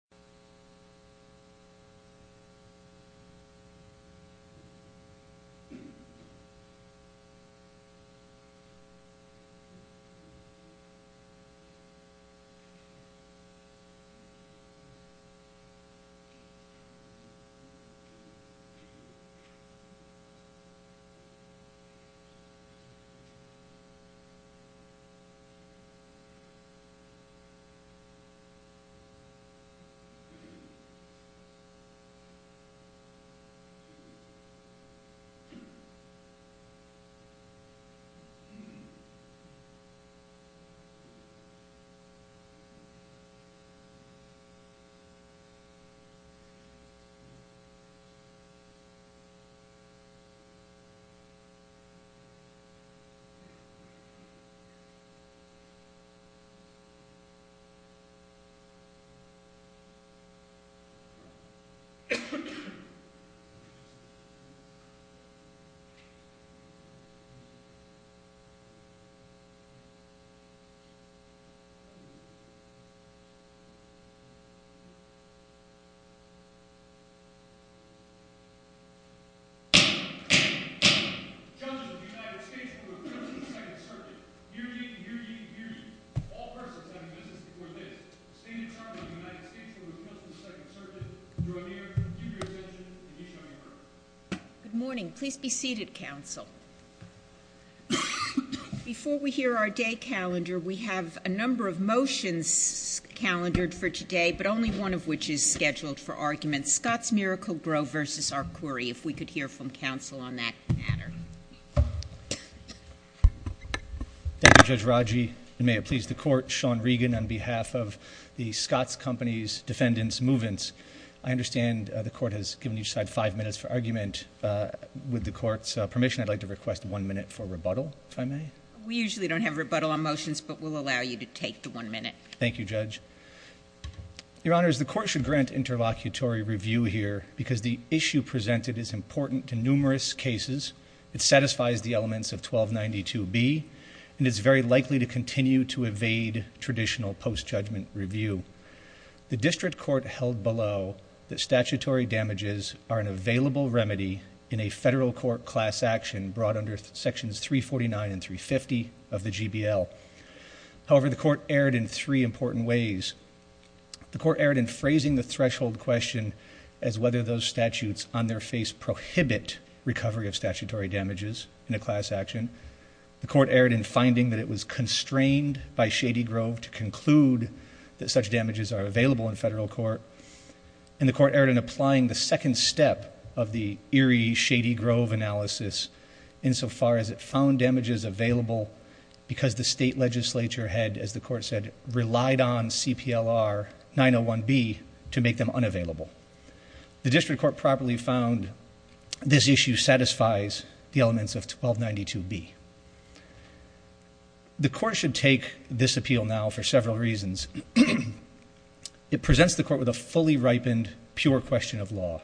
25 October, 2010 Good morning. Please be seated, Council. Before we hear our day calendar, we have a number of motions calendared for today, but only one of which is scheduled for argument. Scott's Miracle-Gro versus our Query, if we could hear from Council on that matter. Thank you, Judge Raji, and may it please the Court, Sean Regan, on behalf of the Scott's Company's Defendants' Movements. I understand the Court has given each side five minutes for argument. With the Court's permission, I'd like to request one minute for rebuttal, if I may. We usually don't have rebuttal on motions, but we'll allow you to take the one minute. Thank you, Judge. Your Honors, the Court should grant interlocutory review here because the issue presented is important to numerous cases. It satisfies the elements of 1292B, and it's very likely to continue to evade traditional post-judgment review. The District Court held below that statutory damages are an available remedy in a federal court class action brought under Sections 349 and 350 of the GBL. However, the Court erred in three important ways. The Court erred in phrasing the threshold question as whether those statutes on their property have statutory damages in a class action. The Court erred in finding that it was constrained by Shady Grove to conclude that such damages are available in federal court, and the Court erred in applying the second step of the eerie Shady Grove analysis insofar as it found damages available because the state legislature had, as the Court said, relied on CPLR 901B to make them unavailable. The District Court properly found this issue satisfies the elements of 1292B. The Court should take this appeal now for several reasons. It presents the Court with a fully ripened, pure question of law.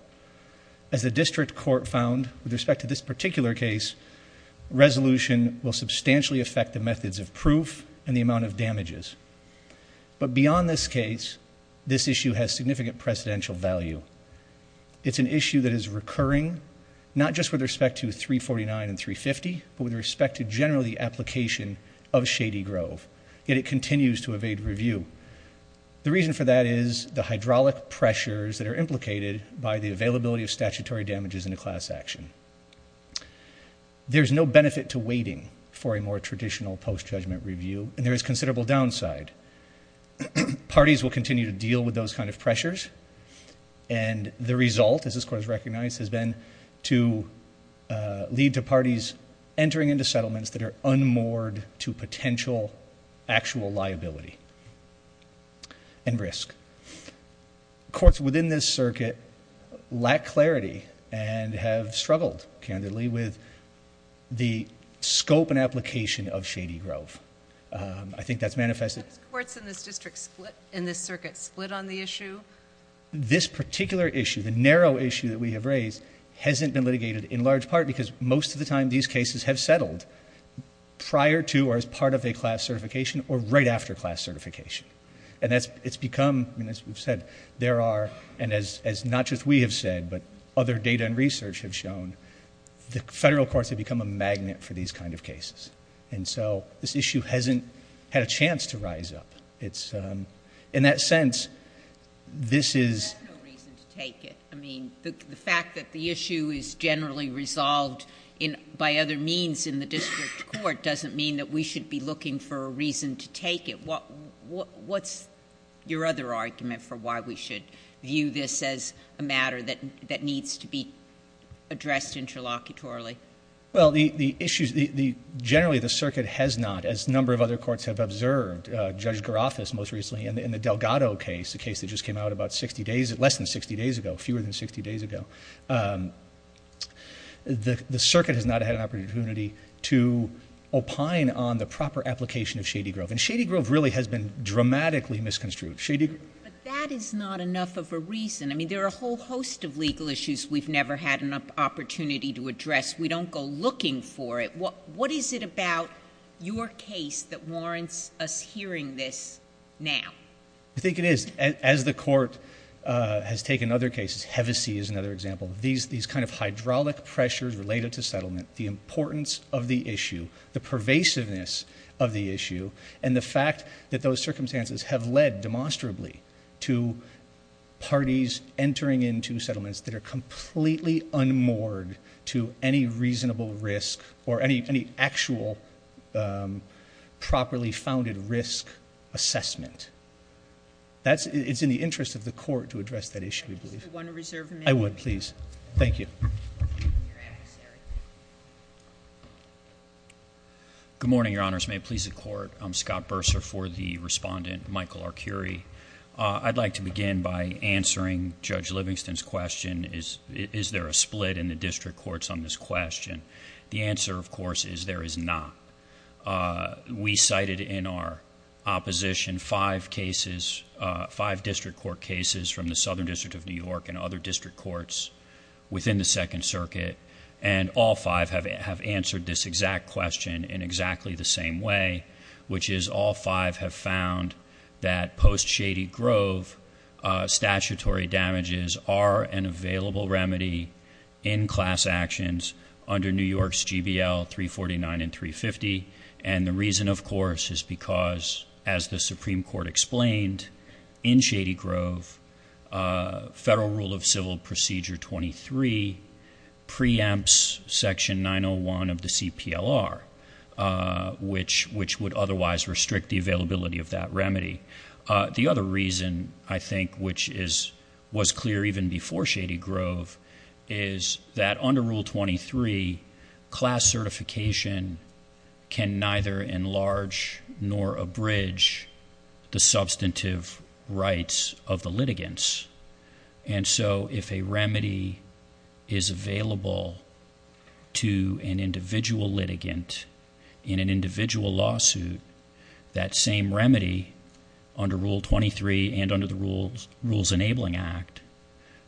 As the District Court found with respect to this particular case, resolution will substantially affect the methods of proof and the amount of damages. But beyond this case, this issue has significant precedential value. It's an issue that is recurring, not just with respect to 349 and 350, but with respect to generally the application of Shady Grove, yet it continues to evade review. The reason for that is the hydraulic pressures that are implicated by the availability of statutory damages in a class action. There's no benefit to waiting for a more traditional post-judgment review, and there is considerable downside. Parties will continue to deal with those kind of pressures, and the result, as this Court has recognized, has been to lead to parties entering into settlements that are unmoored to potential actual liability and risk. Courts within this circuit lack clarity and have struggled, candidly, with the scope and application of Shady Grove. I think that's manifested... What courts in this circuit split on the issue? This particular issue, the narrow issue that we have raised, hasn't been litigated in large part because most of the time, these cases have settled prior to or as part of a class certification or right after class certification. It's become, as we've said, there are... and as not just we have said, but other data and research have shown, the federal courts have become a magnet for these kind of cases. This issue hasn't had a chance to rise up. In that sense, this is... There's no reason to take it. The fact that the issue is generally resolved by other means in the district court doesn't mean that we should be looking for a reason to take it. What's your other argument for why we should view this as a matter that needs to be addressed interlocutorily? Generally, the circuit has not, as a number of other courts have observed, Judge Garofas most recently in the Delgado case, a case that just came out about 60 days, less than 60 days ago, fewer than 60 days ago. The circuit has not had an opportunity to opine on the proper application of Shady Grove. Shady Grove really has been dramatically misconstrued. Shady Grove... That is not enough of a reason. There are a whole host of legal issues we've never had an opportunity to address. We don't go looking for it. What is it about your case that warrants us hearing this now? I think it is. As the court has taken other cases—Hevesi is another example—these kind of hydraulic pressures related to settlement, the importance of the issue, the pervasiveness of the issue, and the fact that those circumstances have led, demonstrably, to parties entering into any reasonable risk or any actual properly founded risk assessment. It is in the interest of the court to address that issue, we believe. Do you want to reserve a minute? I would, please. Thank you. Good morning, Your Honors. May it please the Court. I'm Scott Bursar for the Respondent, Michael Arcuri. I'd like to begin by answering Judge Livingston's question, is there a split in the district courts on this question? The answer, of course, is there is not. We cited in our opposition five district court cases from the Southern District of New York and other district courts within the Second Circuit. All five have answered this exact question in exactly the same way, which is all five have found that post Shady Grove, statutory damages are an available remedy in class actions under New York's GBL 349 and 350. And the reason, of course, is because, as the Supreme Court explained, in Shady Grove, Federal Rule of Civil Procedure 23 preempts Section 901 of the CPLR, which would otherwise restrict the availability of that remedy. The other reason, I think, which was clear even before Shady Grove is that under Rule 23, class certification can neither enlarge nor abridge the substantive rights of the litigants. And so, if a remedy is available to an individual litigant in an individual lawsuit, that same remedy under Rule 23 and under the Rules Enabling Act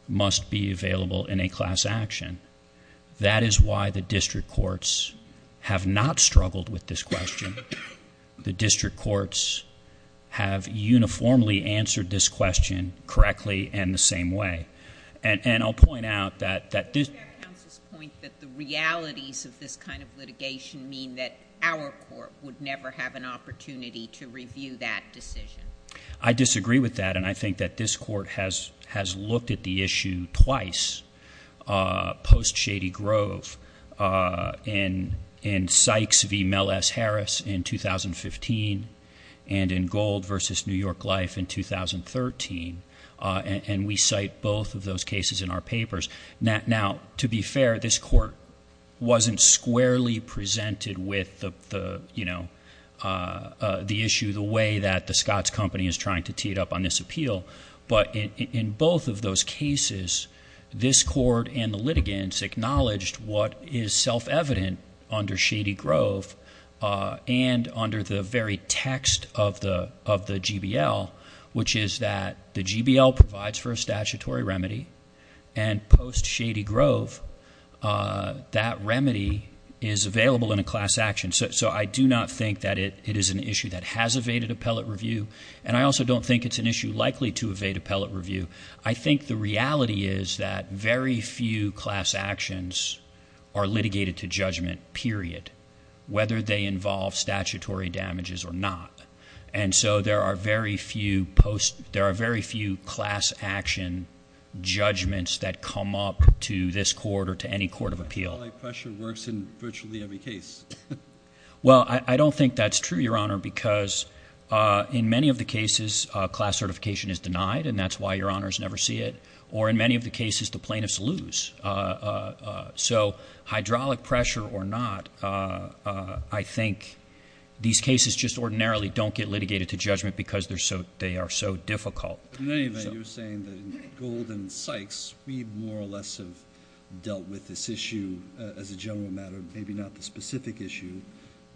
must be available in a class action. That is why the district courts have not struggled with this question. The district courts have uniformly answered this question correctly and the same way. And I'll point out that this— —Counsel's point that the realities of this kind of litigation mean that our court would never have an opportunity to review that decision. —I disagree with that, and I think that this Court has looked at the issue twice post Shady Grove in 2015 and in Gold v. New York Life in 2013, and we cite both of those cases in our papers. Now, to be fair, this Court wasn't squarely presented with the issue the way that the Scotts Company is trying to tee it up on this appeal. But in both of those cases, this Court and the litigants acknowledged what is self-evident under Shady Grove and under the very text of the GBL, which is that the GBL provides for a statutory remedy, and post Shady Grove, that remedy is available in a class action. So I do not think that it is an issue that has evaded appellate review, and I also don't think it's an issue likely to evade appellate review. I think the reality is that very few class actions are litigated to judgment, period, whether they involve statutory damages or not. And so there are very few class action judgments that come up to this Court or to any Court of Appeal. —Appellate pressure works in virtually every case. —Well, I don't think that's true, Your Honor, because in many of the cases, class certification is denied, and that's why Your Honors never see it. Or in many of the cases, the plaintiffs lose. So hydraulic pressure or not, I think these cases just ordinarily don't get litigated to judgment because they are so difficult. —In any event, you're saying that in Gold and Sykes, we more or less have dealt with this issue as a general matter, maybe not the specific issue,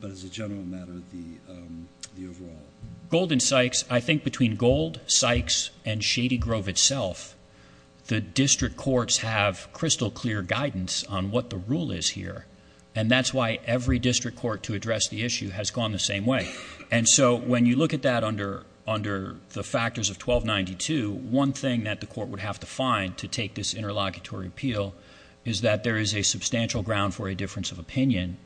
but as a general matter, the overall. —Gold and Sykes, I think between Gold, Sykes, and Shady Grove itself, the district courts have crystal clear guidance on what the rule is here. And that's why every district court to address the issue has gone the same way. And so when you look at that under the factors of 1292, one thing that the court would have to find to take this interlocutory appeal is that there is a substantial ground for a difference of opinion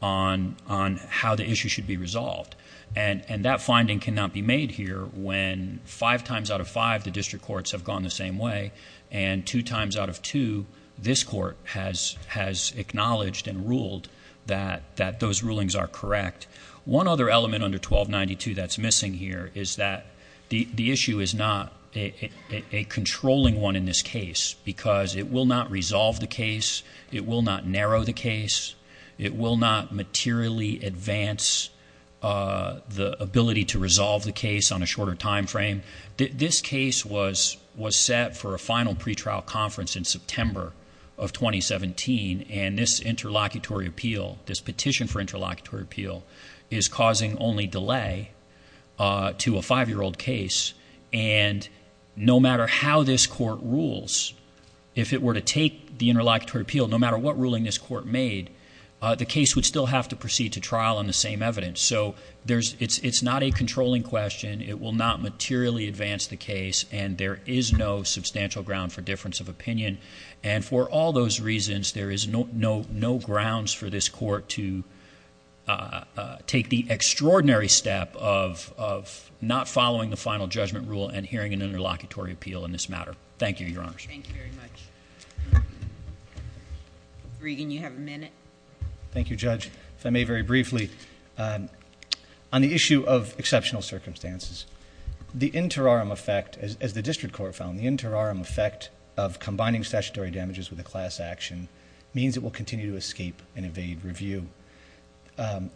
on how the issue should be resolved. And that finding cannot be made here when five times out of five, the district courts have gone the same way, and two times out of two, this court has acknowledged and ruled that those rulings are correct. One other element under 1292 that's missing here is that the issue is not a controlling one in this case because it will not resolve the case. It will not narrow the case. It will not materially advance the ability to resolve the case on a shorter timeframe. This case was set for a final pretrial conference in September of 2017, and this interlocutory appeal, this petition for interlocutory appeal, is causing only delay to a five-year-old case. And no matter how this court rules, if it were to take the interlocutory appeal, no The case would still have to proceed to trial on the same evidence, so it's not a controlling question. It will not materially advance the case, and there is no substantial ground for difference of opinion. And for all those reasons, there is no grounds for this court to take the extraordinary step of not following the final judgment rule and hearing an interlocutory appeal in this matter. Thank you, your honors. Thank you very much. Regan, you have a minute. Thank you, Judge. If I may very briefly, on the issue of exceptional circumstances, the interim effect, as the district court found, the interim effect of combining statutory damages with a class action means it will continue to escape and evade review,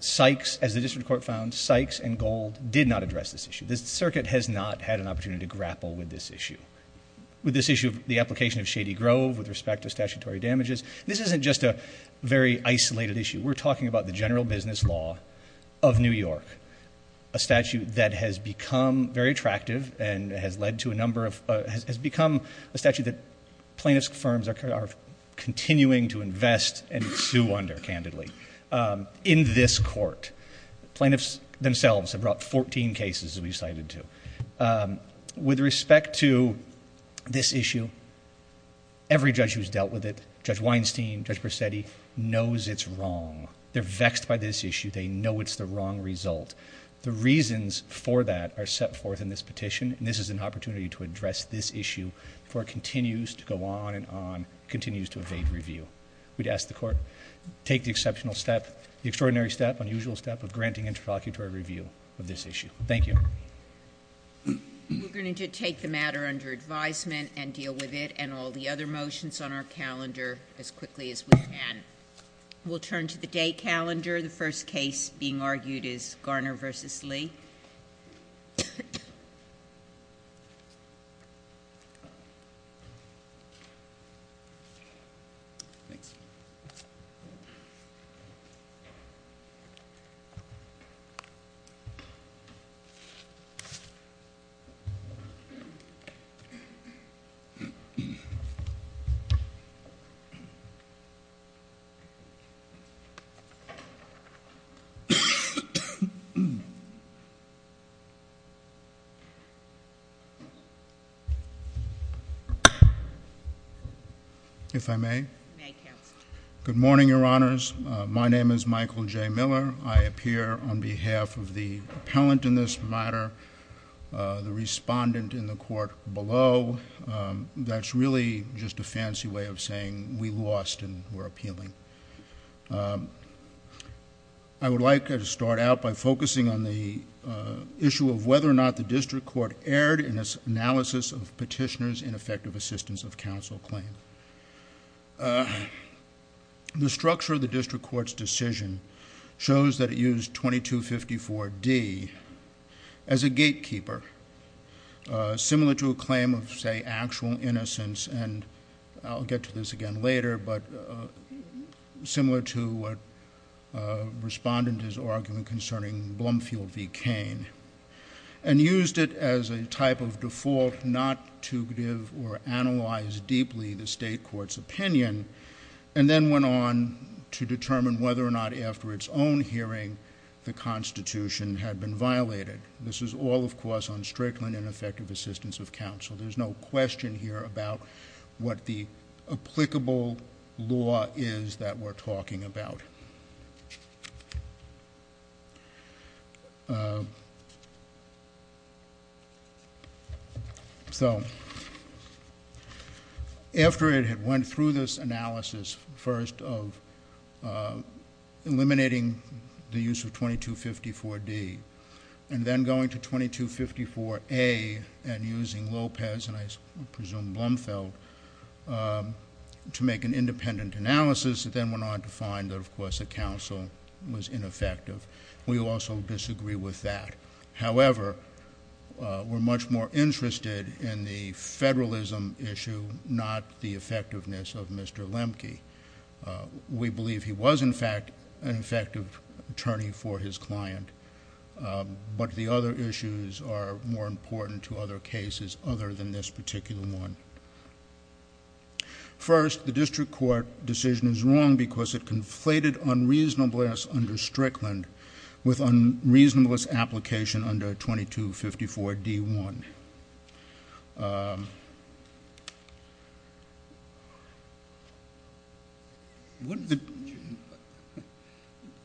Sykes, as the district court found, Sykes and Gold did not address this issue. This circuit has not had an opportunity to grapple with this issue. With this issue, the application of Shady Grove with respect to statutory damages, this isn't just a very isolated issue. We're talking about the general business law of New York, a statute that has become very attractive and has become a statute that plaintiff's firms are continuing to invest and sue under, candidly, in this court. Plaintiffs themselves have brought 14 cases, as we've cited, too. With respect to this issue, every judge who's dealt with it, Judge Weinstein, Judge Persetti, knows it's wrong. They're vexed by this issue, they know it's the wrong result. The reasons for that are set forth in this petition, and this is an opportunity to address this issue before it continues to go on and on, continues to evade review. We'd ask the court, take the exceptional step, the extraordinary step, unusual step of granting interlocutory review of this issue. Thank you. We're going to take the matter under advisement and deal with it and all the other motions on our calendar as quickly as we can. We'll turn to the day calendar. The first case being argued is Garner versus Lee. Thanks. If I may. May, counsel. Good morning, your honors. My name is Michael J. Miller. I appear on behalf of the appellant in this matter. I would like to start out by focusing on the issue of whether or not the district court erred in its analysis of petitioner's ineffective assistance of counsel claim. The structure of the district court's decision shows that it used 2254D as a gatekeeper. Similar to a claim of, say, actual innocence, and I'll get to this again later, but similar to what respondent is arguing concerning Blumfield v. Cain. And used it as a type of default not to give or analyze deeply the state court's opinion, and then went on to determine whether or not after its own hearing, the constitution had been violated. This is all, of course, on Strickland and effective assistance of counsel. There's no question here about what the applicable law is that we're talking about. So, after it had went through this analysis, first of eliminating the use of 2254D, and then going to 2254A and using Lopez and I presume Blumfield to make an independent analysis, it then went on to find that, of course, the counsel was ineffective. We also disagree with that. However, we're much more interested in the federalism issue, not the effectiveness of Mr. Lemke. We believe he was, in fact, an effective attorney for his client, but the other issues are more important to other cases other than this particular one. First, the district court decision is wrong because it conflated unreasonableness under Strickland with unreasonableness application under 2254D1.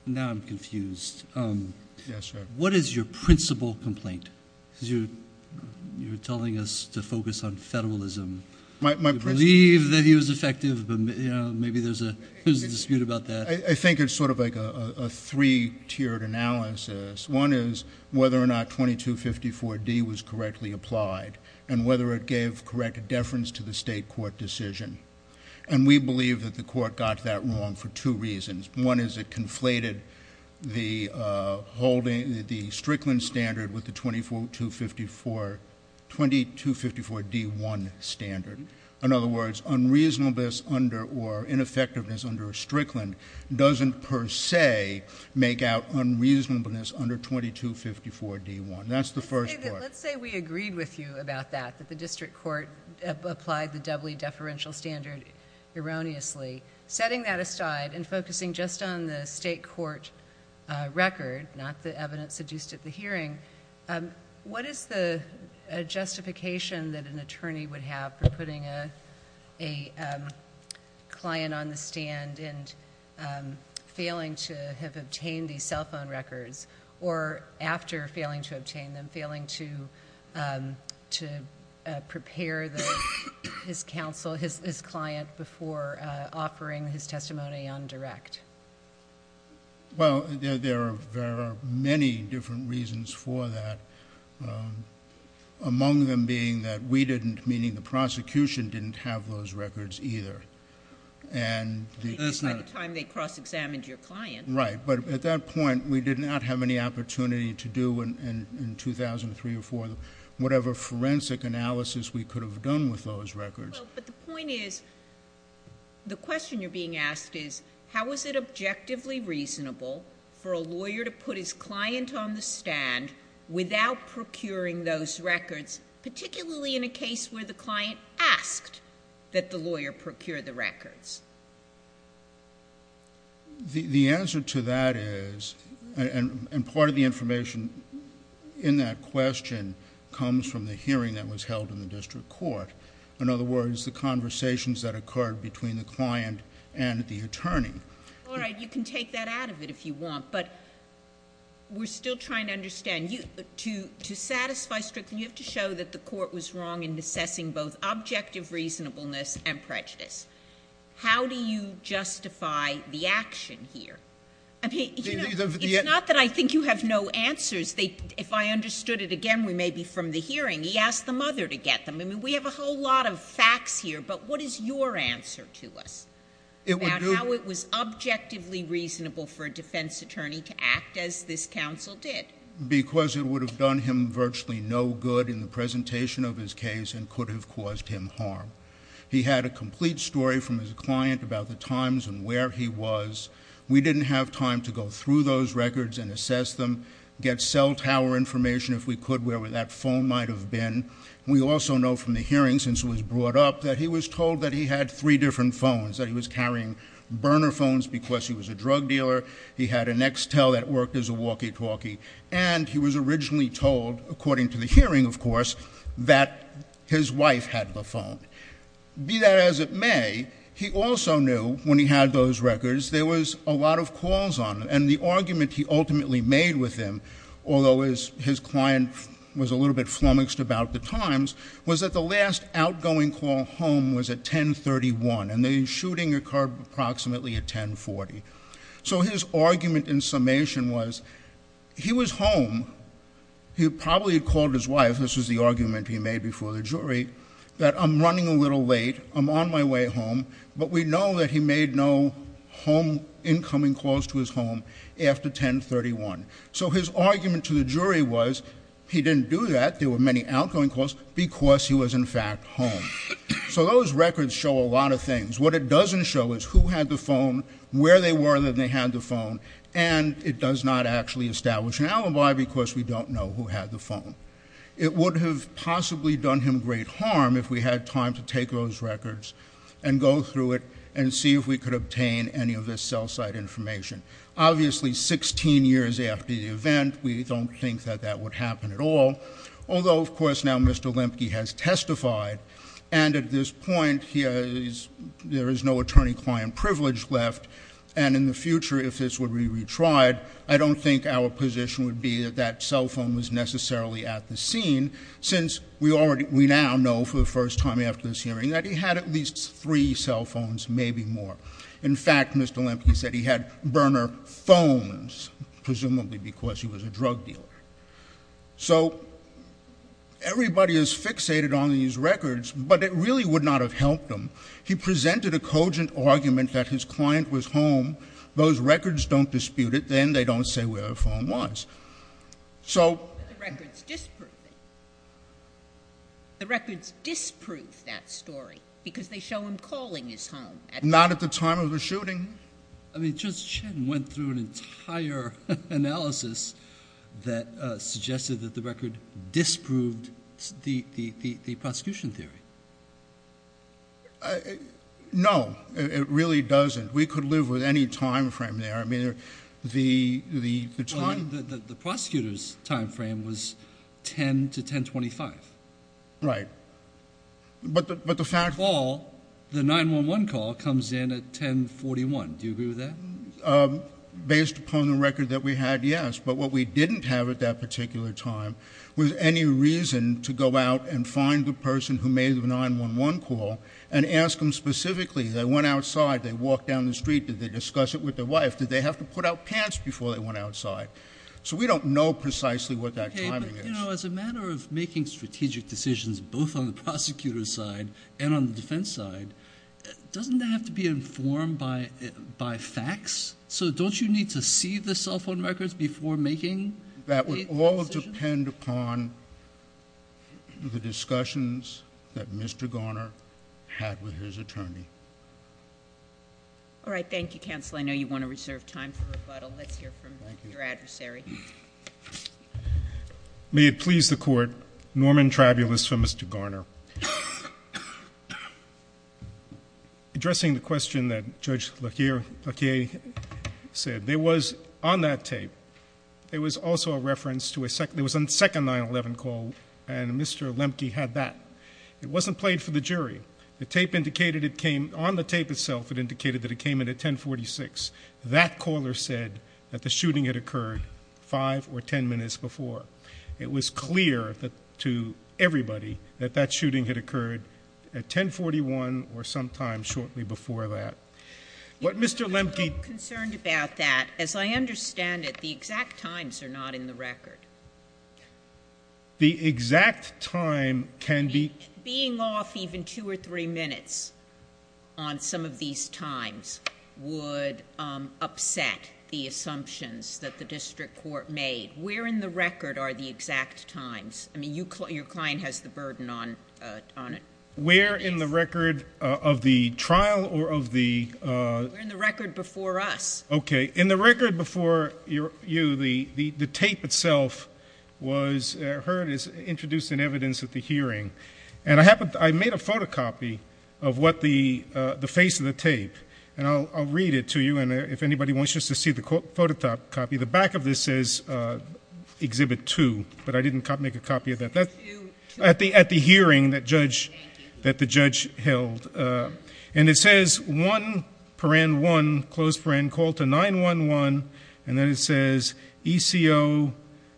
Now I'm confused. Yes, sir. What is your principal complaint? Because you're telling us to focus on federalism. We believe that he was effective, but maybe there's a dispute about that. I think it's sort of like a three-tiered analysis. One is whether or not 2254D was correctly applied and whether it gave correct deference to the state court decision. And we believe that the court got that wrong for two reasons. One is it conflated the Strickland standard with the 2254D1 standard. In other words, unreasonableness or ineffectiveness under Strickland doesn't per se make out unreasonableness under 2254D1. That's the first part. Let's say we agreed with you about that, that the district court applied the doubly deferential standard erroneously. Setting that aside and focusing just on the state court record, not the evidence adduced at the hearing, what is the justification that an attorney would have for putting a client on the stand and failing to have obtained these cell phone records? Or after failing to obtain them, failing to prepare his counsel, his client, before offering his testimony on direct? Well, there are many different reasons for that. Among them being that we didn't, meaning the prosecution didn't have those records either. And- By the time they cross-examined your client. Right, but at that point, we did not have any opportunity to do in 2003 or 2004 whatever forensic analysis we could have done with those records. Well, but the point is, the question you're being asked is, how is it objectively reasonable for a lawyer to put his client on the stand without procuring those records, particularly in a case where the client asked that the lawyer procure the records? The answer to that is, and part of the information in that question comes from the hearing that was held in the district court. In other words, the conversations that occurred between the client and the attorney. All right, you can take that out of it if you want, but we're still trying to understand. To satisfy Strickland, you have to show that the court was wrong in assessing both objective reasonableness and prejudice. How do you justify the action here? I mean, it's not that I think you have no answers. If I understood it again, we may be from the hearing. He asked the mother to get them. We have a whole lot of facts here, but what is your answer to us? About how it was objectively reasonable for a defense attorney to act as this counsel did. Because it would have done him virtually no good in the presentation of his case and could have caused him harm. He had a complete story from his client about the times and where he was. We didn't have time to go through those records and assess them, get cell tower information if we could, where that phone might have been. We also know from the hearing, since it was brought up, that he was told that he had three different phones. That he was carrying burner phones because he was a drug dealer. He had an XTEL that worked as a walkie talkie. And he was originally told, according to the hearing, of course, that his wife had the phone. Be that as it may, he also knew, when he had those records, there was a lot of calls on them. And the argument he ultimately made with him, although his client was a little bit flummoxed about the times, was that the last outgoing call home was at 1031, and the shooting occurred approximately at 1040. So his argument in summation was, he was home. He probably had called his wife, this was the argument he made before the jury, that I'm running a little late, I'm on my way home. But we know that he made no incoming calls to his home after 1031. So his argument to the jury was, he didn't do that, there were many outgoing calls, because he was in fact home. So those records show a lot of things. What it doesn't show is who had the phone, where they were that they had the phone, and it does not actually establish an alibi because we don't know who had the phone. It would have possibly done him great harm if we had time to take those records and go through it and see if we could obtain any of this cell site information. Obviously, 16 years after the event, we don't think that that would happen at all. Although, of course, now Mr. Lemke has testified. And at this point, there is no attorney-client privilege left. And in the future, if this would be retried, I don't think our position would be that that cell phone was necessarily at the scene. Since we now know for the first time after this hearing that he had at least three cell phones, maybe more. In fact, Mr. Lemke said he had burner phones, presumably because he was a drug dealer. So everybody is fixated on these records, but it really would not have helped him. He presented a cogent argument that his client was home. Those records don't dispute it, then they don't say where her phone was. So- The records disprove it. The records disprove that story, because they show him calling his home. Not at the time of the shooting. I mean, Judge Chen went through an entire analysis that suggested that the record disproved the prosecution theory. No, it really doesn't. We could live with any time frame there. I mean, the time- The prosecutor's time frame was 10 to 1025. Right. But the fact- Call, the 911 call comes in at 1041, do you agree with that? Based upon the record that we had, yes. But what we didn't have at that particular time was any reason to go out and ask them specifically, they went outside, they walked down the street, did they discuss it with their wife? Did they have to put out pants before they went outside? So we don't know precisely what that timing is. Okay, but as a matter of making strategic decisions, both on the prosecutor's side and on the defense side, doesn't that have to be informed by facts? So don't you need to see the cell phone records before making- That would all depend upon the discussions that Mr. Garner had with his attorney. All right, thank you, counsel. I know you want to reserve time for rebuttal. Let's hear from your adversary. May it please the court, Norman Trabulus for Mr. Garner. Addressing the question that Judge Laquier said, there was, on that tape, there was also a reference to a second 9-11 call, and Mr. Lemke had that. It wasn't played for the jury. The tape indicated it came, on the tape itself, it indicated that it came in at 1046. That caller said that the shooting had occurred five or ten minutes before. It was clear to everybody that that shooting had occurred at 1041 or sometime shortly before that. What Mr. Lemke- I'm concerned about that. As I understand it, the exact times are not in the record. The exact time can be- Being off even two or three minutes on some of these times would upset the assumptions that the district court made. Where in the record are the exact times? I mean, your client has the burden on it. Where in the record of the trial or of the- In the record before us. Okay, in the record before you, the tape itself was heard as introduced in evidence at the hearing. And I made a photocopy of what the face of the tape, and I'll read it to you. And if anybody wants just to see the photocopy, the back of this says Exhibit 2, but I didn't make a copy of that. At the hearing that the judge held. And it says 1, close friend, call to 911, and then it says ECO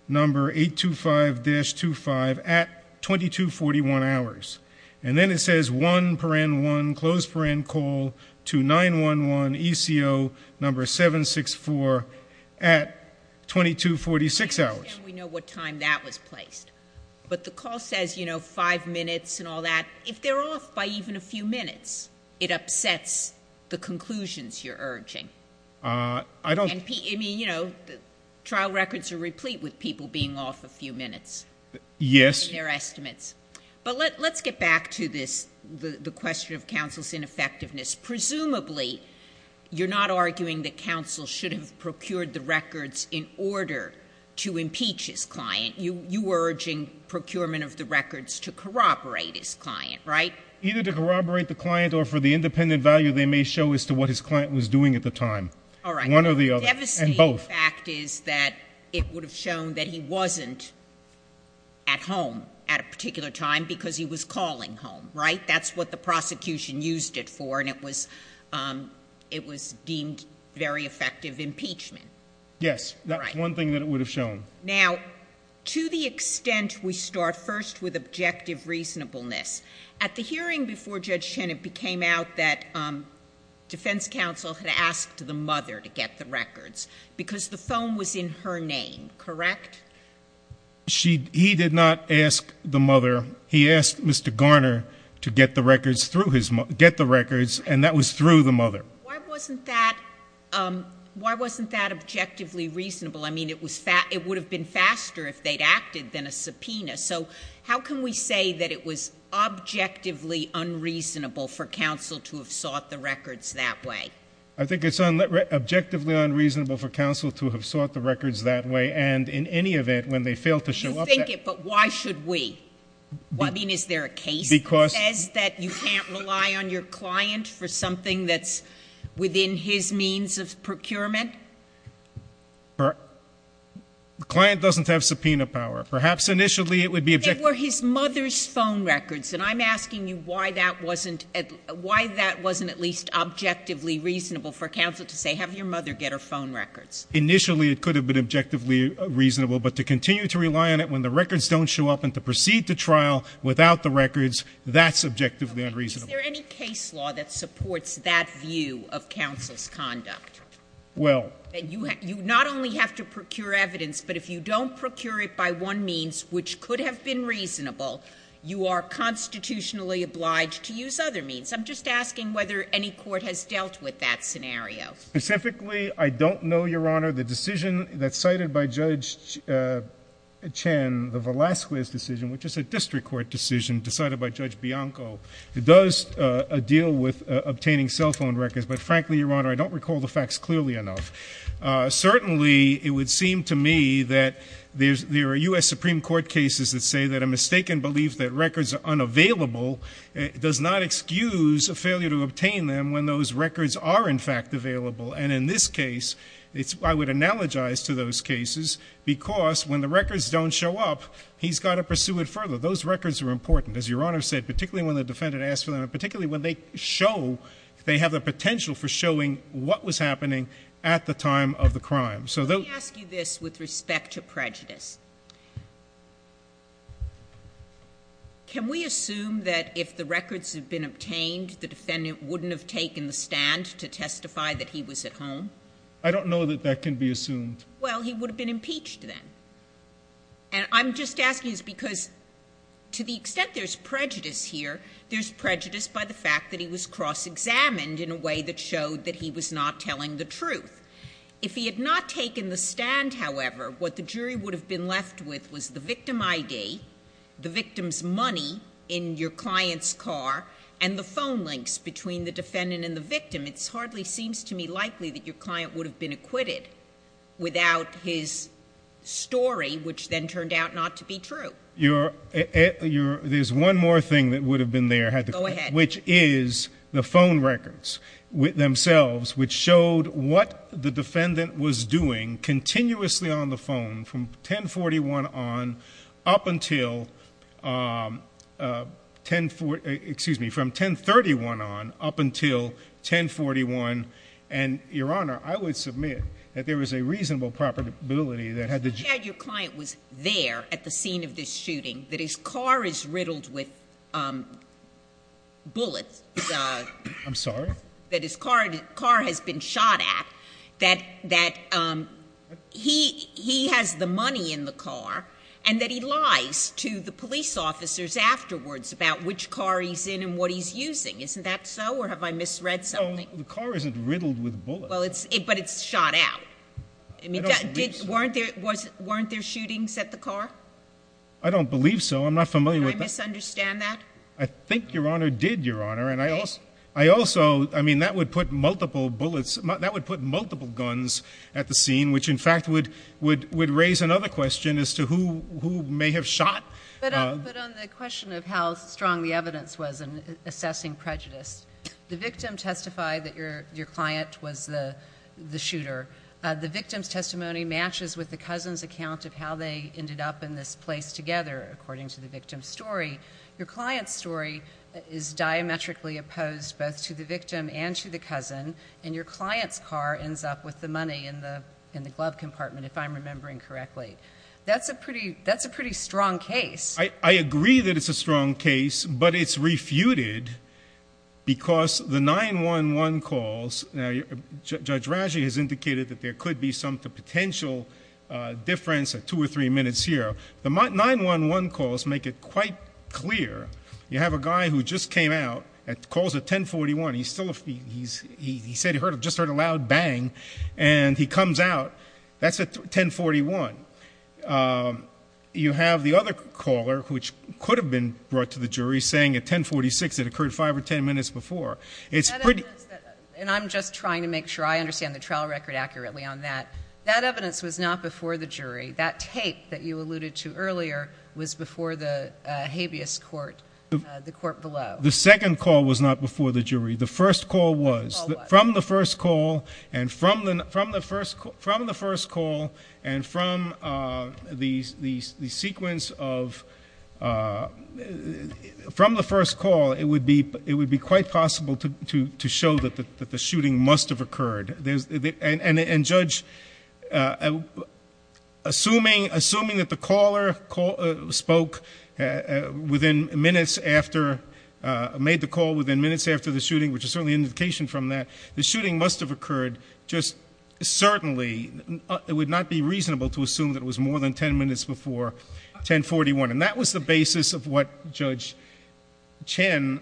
number 825-25 at 2241 hours. And then it says 1, close friend, call to 911, ECO number 764 at 2246 hours. How can we know what time that was placed? But the call says five minutes and all that. If they're off by even a few minutes, it upsets the conclusions you're urging. I don't- I mean, trial records are replete with people being off a few minutes. Yes. In their estimates. But let's get back to this, the question of counsel's ineffectiveness. Presumably, you're not arguing that counsel should have procured the records in order to impeach his client, you were urging procurement of the records to corroborate his client, right? Either to corroborate the client or for the independent value they may show as to what his client was doing at the time. All right. One or the other. And both. The fact is that it would have shown that he wasn't at home at a particular time because he was calling home, right? That's what the prosecution used it for and it was deemed very effective impeachment. Yes, that's one thing that it would have shown. Now, to the extent we start first with objective reasonableness. At the hearing before Judge Shen, it became out that defense counsel had asked the mother to get the records. Because the phone was in her name, correct? She, he did not ask the mother. He asked Mr. Garner to get the records through his, get the records and that was through the mother. Why wasn't that, why wasn't that objectively reasonable? I mean, it was, it would have been faster if they'd acted than a subpoena. So, how can we say that it was objectively unreasonable for counsel to have sought the records that way? I think it's objectively unreasonable for counsel to have sought the records that way and in any event, when they fail to show up- You think it, but why should we? I mean, is there a case that says that you can't rely on your client for within his means of procurement? Client doesn't have subpoena power. Perhaps initially it would be- They were his mother's phone records, and I'm asking you why that wasn't, why that wasn't at least objectively reasonable for counsel to say, have your mother get her phone records. Initially it could have been objectively reasonable, but to continue to rely on it when the records don't show up and to proceed to trial without the records, that's objectively unreasonable. Is there any case law that supports that view of counsel's conduct? Well- And you not only have to procure evidence, but if you don't procure it by one means, which could have been reasonable, you are constitutionally obliged to use other means. I'm just asking whether any court has dealt with that scenario. Specifically, I don't know, Your Honor, the decision that's cited by Judge Chen, the Velasquez decision, which is a district court decision decided by Judge Bianco. It does deal with obtaining cell phone records, but frankly, Your Honor, I don't recall the facts clearly enough. Certainly, it would seem to me that there are US Supreme Court cases that say that a mistaken belief that records are unavailable does not excuse a failure to obtain them when those records are in fact available. And in this case, I would analogize to those cases because when the records don't show up, he's got to pursue it further. So those records are important, as Your Honor said, particularly when the defendant asks for them, and particularly when they show they have the potential for showing what was happening at the time of the crime. So those- Let me ask you this with respect to prejudice. Can we assume that if the records had been obtained, the defendant wouldn't have taken the stand to testify that he was at home? I don't know that that can be assumed. Well, he would have been impeached then. And I'm just asking this because to the extent there's prejudice here, there's prejudice by the fact that he was cross-examined in a way that showed that he was not telling the truth. If he had not taken the stand, however, what the jury would have been left with was the victim ID, the victim's money in your client's car, and the phone links between the defendant and the victim. It hardly seems to me likely that your client would have been acquitted without his story, which then turned out not to be true. There's one more thing that would have been there, which is the phone records themselves, which showed what the defendant was doing continuously on the phone from 1041 on up until, excuse me, from 1031 on up until 1041. And, your honor, I would submit that there was a reasonable probability that had the- You said your client was there at the scene of this shooting, that his car is riddled with bullets. I'm sorry? That his car has been shot at, that he has the money in the car, and that he lies to the police officers afterwards about which car he's in and what he's using. Isn't that so, or have I misread something? The car isn't riddled with bullets. Well, but it's shot out. I don't believe so. Weren't there shootings at the car? I don't believe so. I'm not familiar with that. Did I misunderstand that? I think your honor did, your honor. And I also, I mean, that would put multiple bullets, that would put multiple guns at the scene, which in fact would raise another question as to who may have shot. But on the question of how strong the evidence was in assessing prejudice, the victim testified that your client was the shooter. The victim's testimony matches with the cousin's account of how they ended up in this place together, according to the victim's story. Your client's story is diametrically opposed both to the victim and to the cousin. And your client's car ends up with the money in the glove compartment, if I'm remembering correctly. That's a pretty strong case. I agree that it's a strong case, but it's refuted because the 911 calls. Now, Judge Raji has indicated that there could be some potential difference at two or three minutes here. The 911 calls make it quite clear. You have a guy who just came out, calls at 1041, he said he just heard a loud bang, and he comes out. That's at 1041. You have the other caller, which could have been brought to the jury, saying at 1046 it occurred five or ten minutes before. It's pretty- And I'm just trying to make sure I understand the trial record accurately on that. That evidence was not before the jury. That tape that you alluded to earlier was before the habeas court, the court below. The second call was not before the jury. The first call was. From the first call and from the sequence of, from the first call, it would be quite possible to show that the shooting must have occurred. And Judge, assuming that the caller spoke within minutes after, made the call within minutes after the shooting, which is certainly an indication from that. The shooting must have occurred just certainly, it would not be reasonable to assume that it was more than ten minutes before 1041. And that was the basis of what Judge Chen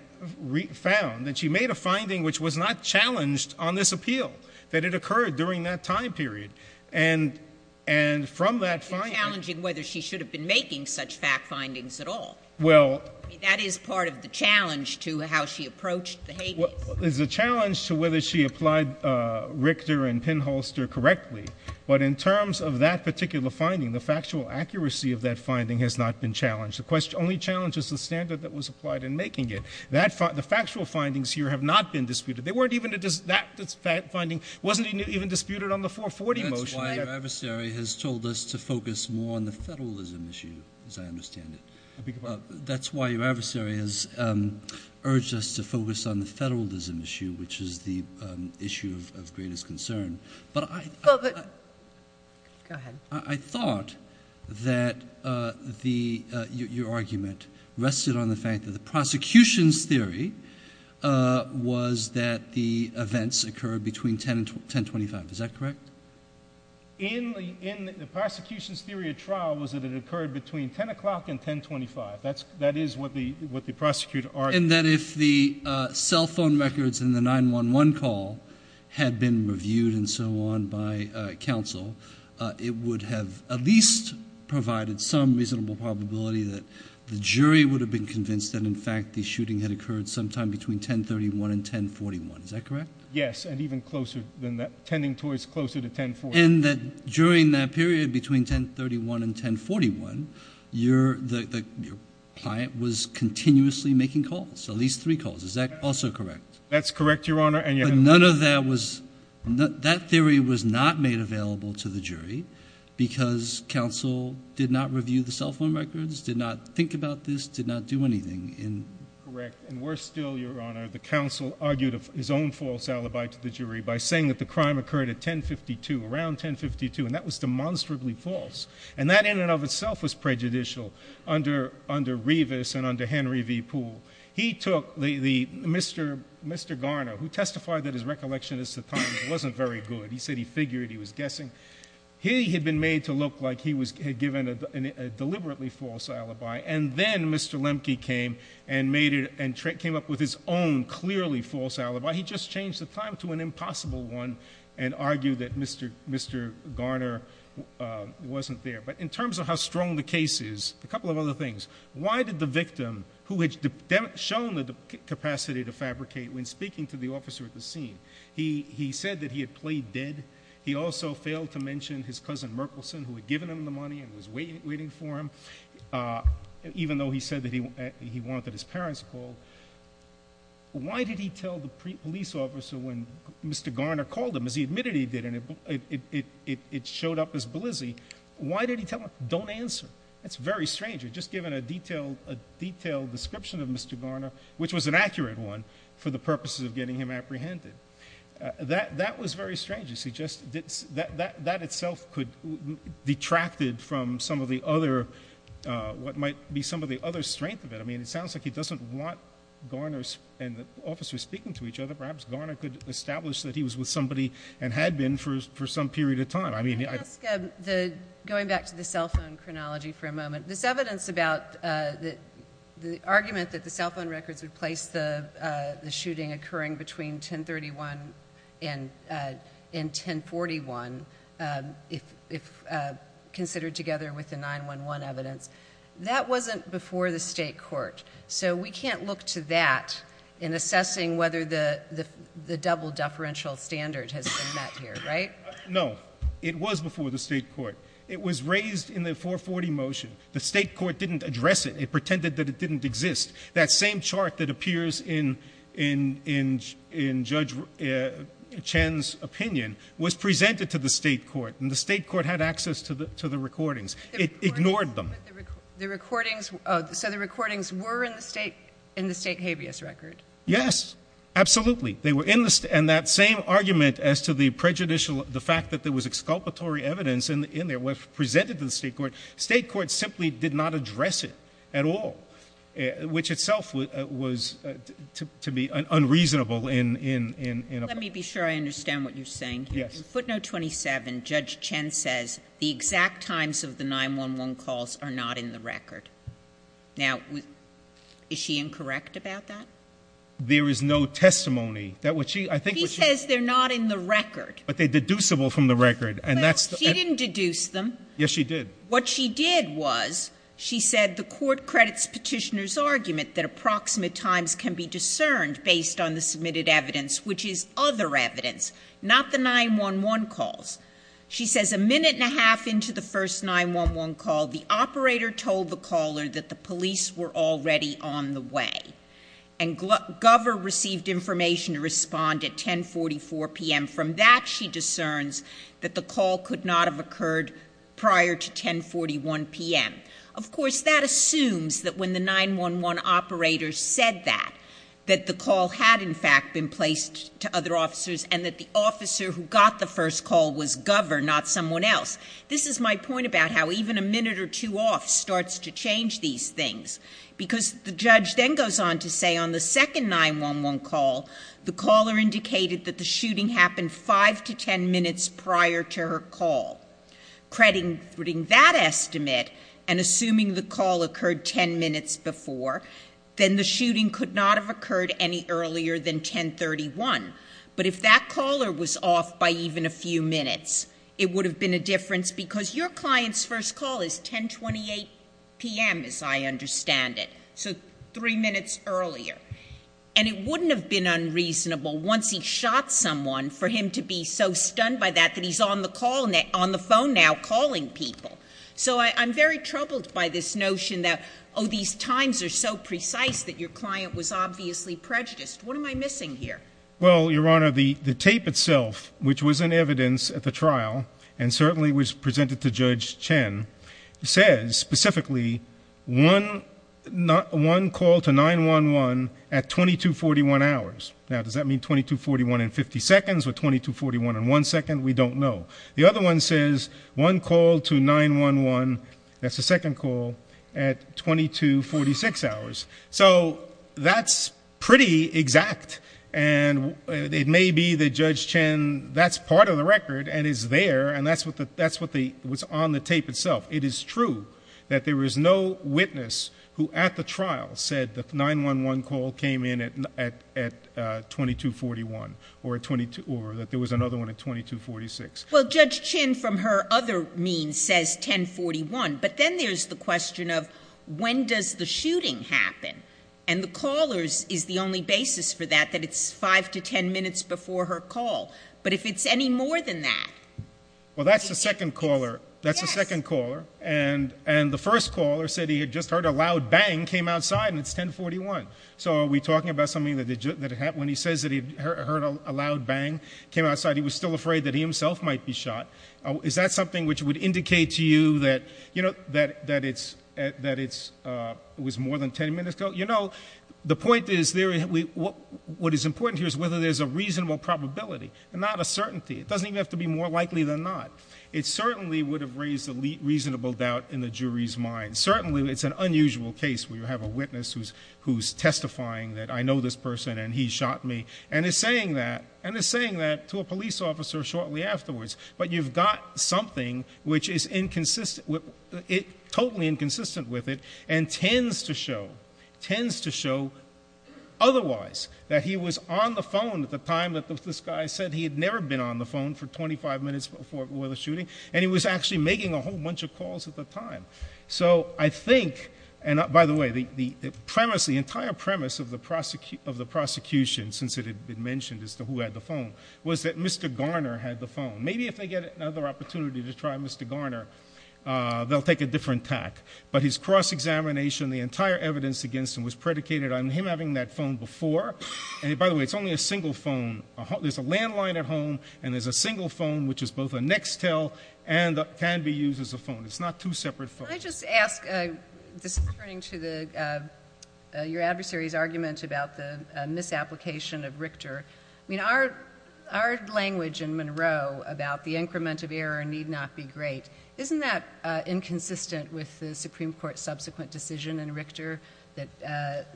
found, that she made a finding which was not challenged on this appeal, that it occurred during that time period. And from that finding- It's challenging whether she should have been making such fact findings at all. Well- That is part of the challenge to how she approached the habeas. It's a challenge to whether she applied Richter and Pinholster correctly. But in terms of that particular finding, the factual accuracy of that finding has not been challenged. The only challenge is the standard that was applied in making it. The factual findings here have not been disputed. They weren't even, that finding wasn't even disputed on the 440 motion. That's why your adversary has told us to focus more on the federalism issue, as I understand it. That's why your adversary has urged us to focus on the federalism issue, which is the issue of greatest concern. But I- Go ahead. I thought that your argument rested on the fact that the prosecution's theory was that the events occurred between 10 and 1025. Is that correct? In the prosecution's theory of trial was that it occurred between 10 o'clock and 1025. That is what the prosecutor argued. In that if the cell phone records in the 911 call had been reviewed and so on by counsel, it would have at least provided some reasonable probability that the jury would have been convinced that, in fact, the shooting had occurred sometime between 1031 and 1041, is that correct? Yes, and even closer than that, tending towards closer to 1040. And that during that period between 1031 and 1041, your client was continuously making calls, at least three calls, is that also correct? That's correct, Your Honor, and you have- But none of that was, that theory was not made available to the jury, because counsel did not review the cell phone records, did not think about this, did not do anything in- Correct, and worse still, Your Honor, the counsel argued his own false alibi to the jury by saying that the crime occurred at 1052. Around 1052, and that was demonstrably false, and that in and of itself was prejudicial under Revis and under Henry V. Poole. He took the, Mr. Garner, who testified that his recollection at the time wasn't very good, he said he figured, he was guessing. He had been made to look like he had given a deliberately false alibi, and then Mr. Lemke came and made it, and came up with his own clearly false alibi. Why he just changed the time to an impossible one, and argued that Mr. Garner wasn't there. But in terms of how strong the case is, a couple of other things. Why did the victim, who had shown the capacity to fabricate when speaking to the officer at the scene, he said that he had played dead. He also failed to mention his cousin, Merkelson, who had given him the money and was waiting for him. Even though he said that he wanted his parents called. Why did he tell the police officer when Mr. Garner called him, as he admitted he did, and it showed up as blizzy. Why did he tell him? Don't answer. That's very strange. You're just given a detailed description of Mr. Garner, which was an accurate one, for the purposes of getting him apprehended. That was very strange. That itself could, detracted from some of the other, what might be some of the other strength of it. I mean, it sounds like he doesn't want Garner's, and the officers speaking to each other, perhaps Garner could establish that he was with somebody and had been for some period of time. I mean- Can I ask, going back to the cell phone chronology for a moment, this evidence about the argument that the cell phone records would place the shooting occurring between 1031 and 1041, if considered together with the 911 evidence. That wasn't before the state court. So we can't look to that in assessing whether the double deferential standard has been met here, right? No, it was before the state court. It was raised in the 440 motion. The state court didn't address it. It pretended that it didn't exist. That same chart that appears in Judge Chen's opinion was presented to the state court. And the state court had access to the recordings. It ignored them. The recordings, so the recordings were in the state habeas record? Yes, absolutely. They were in the, and that same argument as to the prejudicial, the fact that there was exculpatory evidence in there was presented to the state court. State court simply did not address it at all, which itself was to be unreasonable in a- Let me be sure I understand what you're saying here. Yes. In footnote 27, Judge Chen says, the exact times of the 911 calls are not in the record. Now, is she incorrect about that? There is no testimony that what she, I think what she- She says they're not in the record. But they're deducible from the record, and that's- But she didn't deduce them. Yes, she did. What she did was, she said the court credits petitioner's argument that approximate times can be discerned based on the submitted evidence, which is other evidence, not the 911 calls. She says a minute and a half into the first 911 call, the operator told the caller that the police were already on the way. And Gover received information to respond at 1044 PM. And from that, she discerns that the call could not have occurred prior to 1041 PM. Of course, that assumes that when the 911 operator said that, that the call had in fact been placed to other officers, and that the officer who got the first call was Gover, not someone else. This is my point about how even a minute or two off starts to change these things. Because the judge then goes on to say on the second 911 call, the caller indicated that the shooting happened five to ten minutes prior to her call. Crediting that estimate, and assuming the call occurred ten minutes before, then the shooting could not have occurred any earlier than 1031. But if that caller was off by even a few minutes, it would have been a difference. Because your client's first call is 1028 PM, as I understand it. So three minutes earlier. And it wouldn't have been unreasonable once he shot someone for him to be so stunned by that that he's on the phone now calling people. So I'm very troubled by this notion that these times are so precise that your client was obviously prejudiced. What am I missing here? Well, Your Honor, the tape itself, which was in evidence at the trial, and certainly was presented to Judge Chen, says specifically, one call to 911 at 2241 hours. Now, does that mean 2241 in 50 seconds or 2241 in one second? We don't know. The other one says, one call to 911, that's the second call, at 2246 hours. So that's pretty exact. And it may be that Judge Chen, that's part of the record and is there. And that's what was on the tape itself. It is true that there was no witness who at the trial said that 911 call came in at 2241. Or that there was another one at 2246. Well, Judge Chen from her other means says 1041. But then there's the question of, when does the shooting happen? And the callers is the only basis for that, that it's five to ten minutes before her call. But if it's any more than that. Well, that's the second caller. That's the second caller. And the first caller said he had just heard a loud bang came outside and it's 1041. So are we talking about something that when he says that he heard a loud bang came outside, he was still afraid that he himself might be shot? Is that something which would indicate to you that it was more than ten minutes ago? The point is, what is important here is whether there's a reasonable probability and not a certainty. It doesn't even have to be more likely than not. It certainly would have raised a reasonable doubt in the jury's mind. Certainly, it's an unusual case where you have a witness who's testifying that I know this person and he shot me. And is saying that to a police officer shortly afterwards. But you've got something which is totally inconsistent with it. And tends to show otherwise, that he was on the phone at the time that this guy said he had never been on the phone for 25 minutes before the shooting. And he was actually making a whole bunch of calls at the time. So I think, and by the way, the entire premise of the prosecution, since it had been mentioned as to who had the phone, was that Mr. Garner had the phone. Maybe if they get another opportunity to try Mr. Garner, they'll take a different tack. But his cross-examination, the entire evidence against him was predicated on him having that phone before. And by the way, it's only a single phone. There's a landline at home, and there's a single phone, which is both a Nextel and can be used as a phone. It's not two separate phones. I just ask, this is turning to your adversary's argument about the misapplication of Richter. I mean, our language in Monroe about the increment of error need not be great. Isn't that inconsistent with the Supreme Court's subsequent decision in Richter, that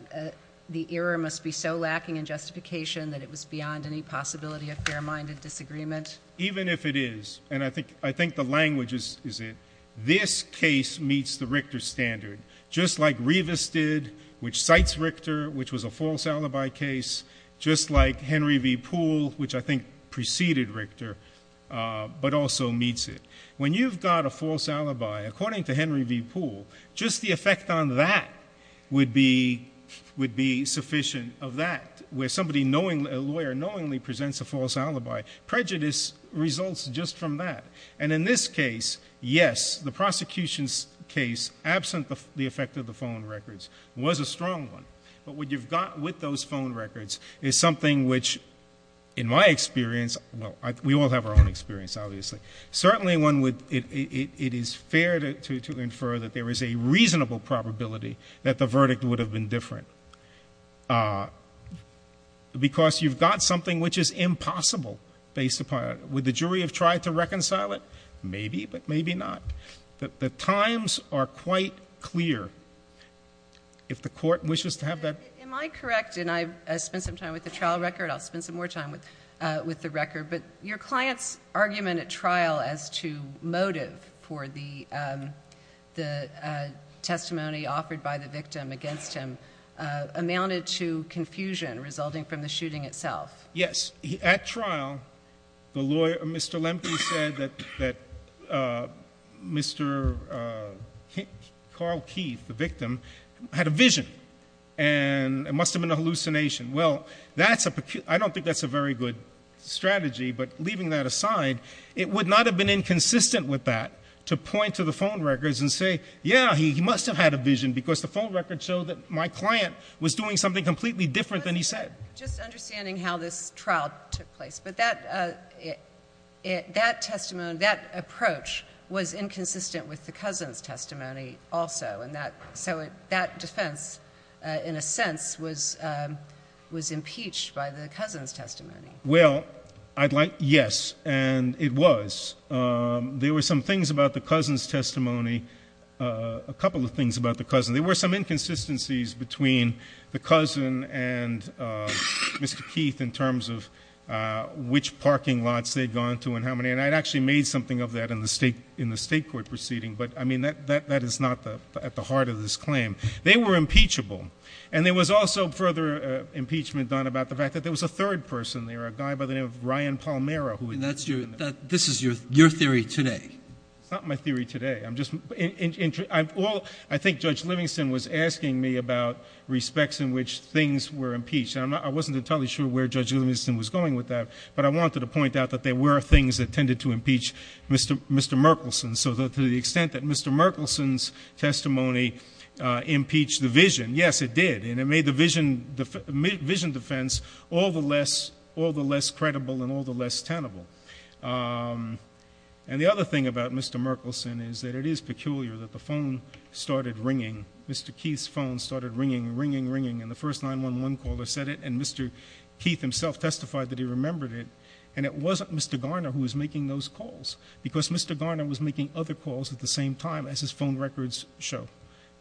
the error must be so lacking in justification that it was beyond any possibility of fair-minded disagreement? Even if it is, and I think the language is it, this case meets the Richter standard. Just like Rivas did, which cites Richter, which was a false alibi case. Just like Henry V Poole, which I think preceded Richter, but also meets it. When you've got a false alibi, according to Henry V Poole, just the effect on that would be sufficient of that, where a lawyer knowingly presents a false alibi, prejudice results just from that. And in this case, yes, the prosecution's case, absent the effect of the phone records, was a strong one. But what you've got with those phone records is something which, in my experience, well, we all have our own experience, obviously. Certainly, it is fair to infer that there is a reasonable probability that the verdict would have been different. Because you've got something which is impossible based upon, would the jury have tried to reconcile it? Maybe, but maybe not. The times are quite clear. If the court wishes to have that- Am I correct, and I've spent some time with the trial record, I'll spend some more time with the record. But your client's argument at trial as to motive for the testimony offered by the victim against him amounted to confusion resulting from the shooting itself. Yes. At trial, the lawyer, Mr. Lemke, said that Mr. Carl Keith, the victim, had a vision. And it must have been a hallucination. Well, I don't think that's a very good strategy, but leaving that aside, it would not have been inconsistent with that to point to the phone records and say, yeah, he must have had a vision because the phone records show that my client was doing something completely different than he said. Just understanding how this trial took place, but that approach was inconsistent with the cousin's testimony also. So that defense, in a sense, was impeached by the cousin's testimony. Well, I'd like, yes, and it was. There were some things about the cousin's testimony, a couple of things about the cousin. There were some inconsistencies between the cousin and Mr. Keith in terms of which parking lots they'd gone to and how many. And I'd actually made something of that in the state court proceeding, but I mean, that is not at the heart of this claim. They were impeachable. And there was also further impeachment done about the fact that there was a third person there, a guy by the name of Ryan Palmera who- And this is your theory today. It's not my theory today. I'm just, I think Judge Livingston was asking me about respects in which things were impeached. And I wasn't entirely sure where Judge Livingston was going with that, but I wanted to point out that there were things that tended to impeach Mr. Merkelson. So to the extent that Mr. Merkelson's testimony impeached the vision, yes, it did. And it made the vision defense all the less credible and all the less tenable. And the other thing about Mr. Merkelson is that it is peculiar that the phone started ringing. Mr. Keith's phone started ringing, ringing, ringing, and the first 911 caller said it, and Mr. Keith himself testified that he remembered it. And it wasn't Mr. Garner who was making those calls, because Mr. Garner was making other calls at the same time as his phone records show.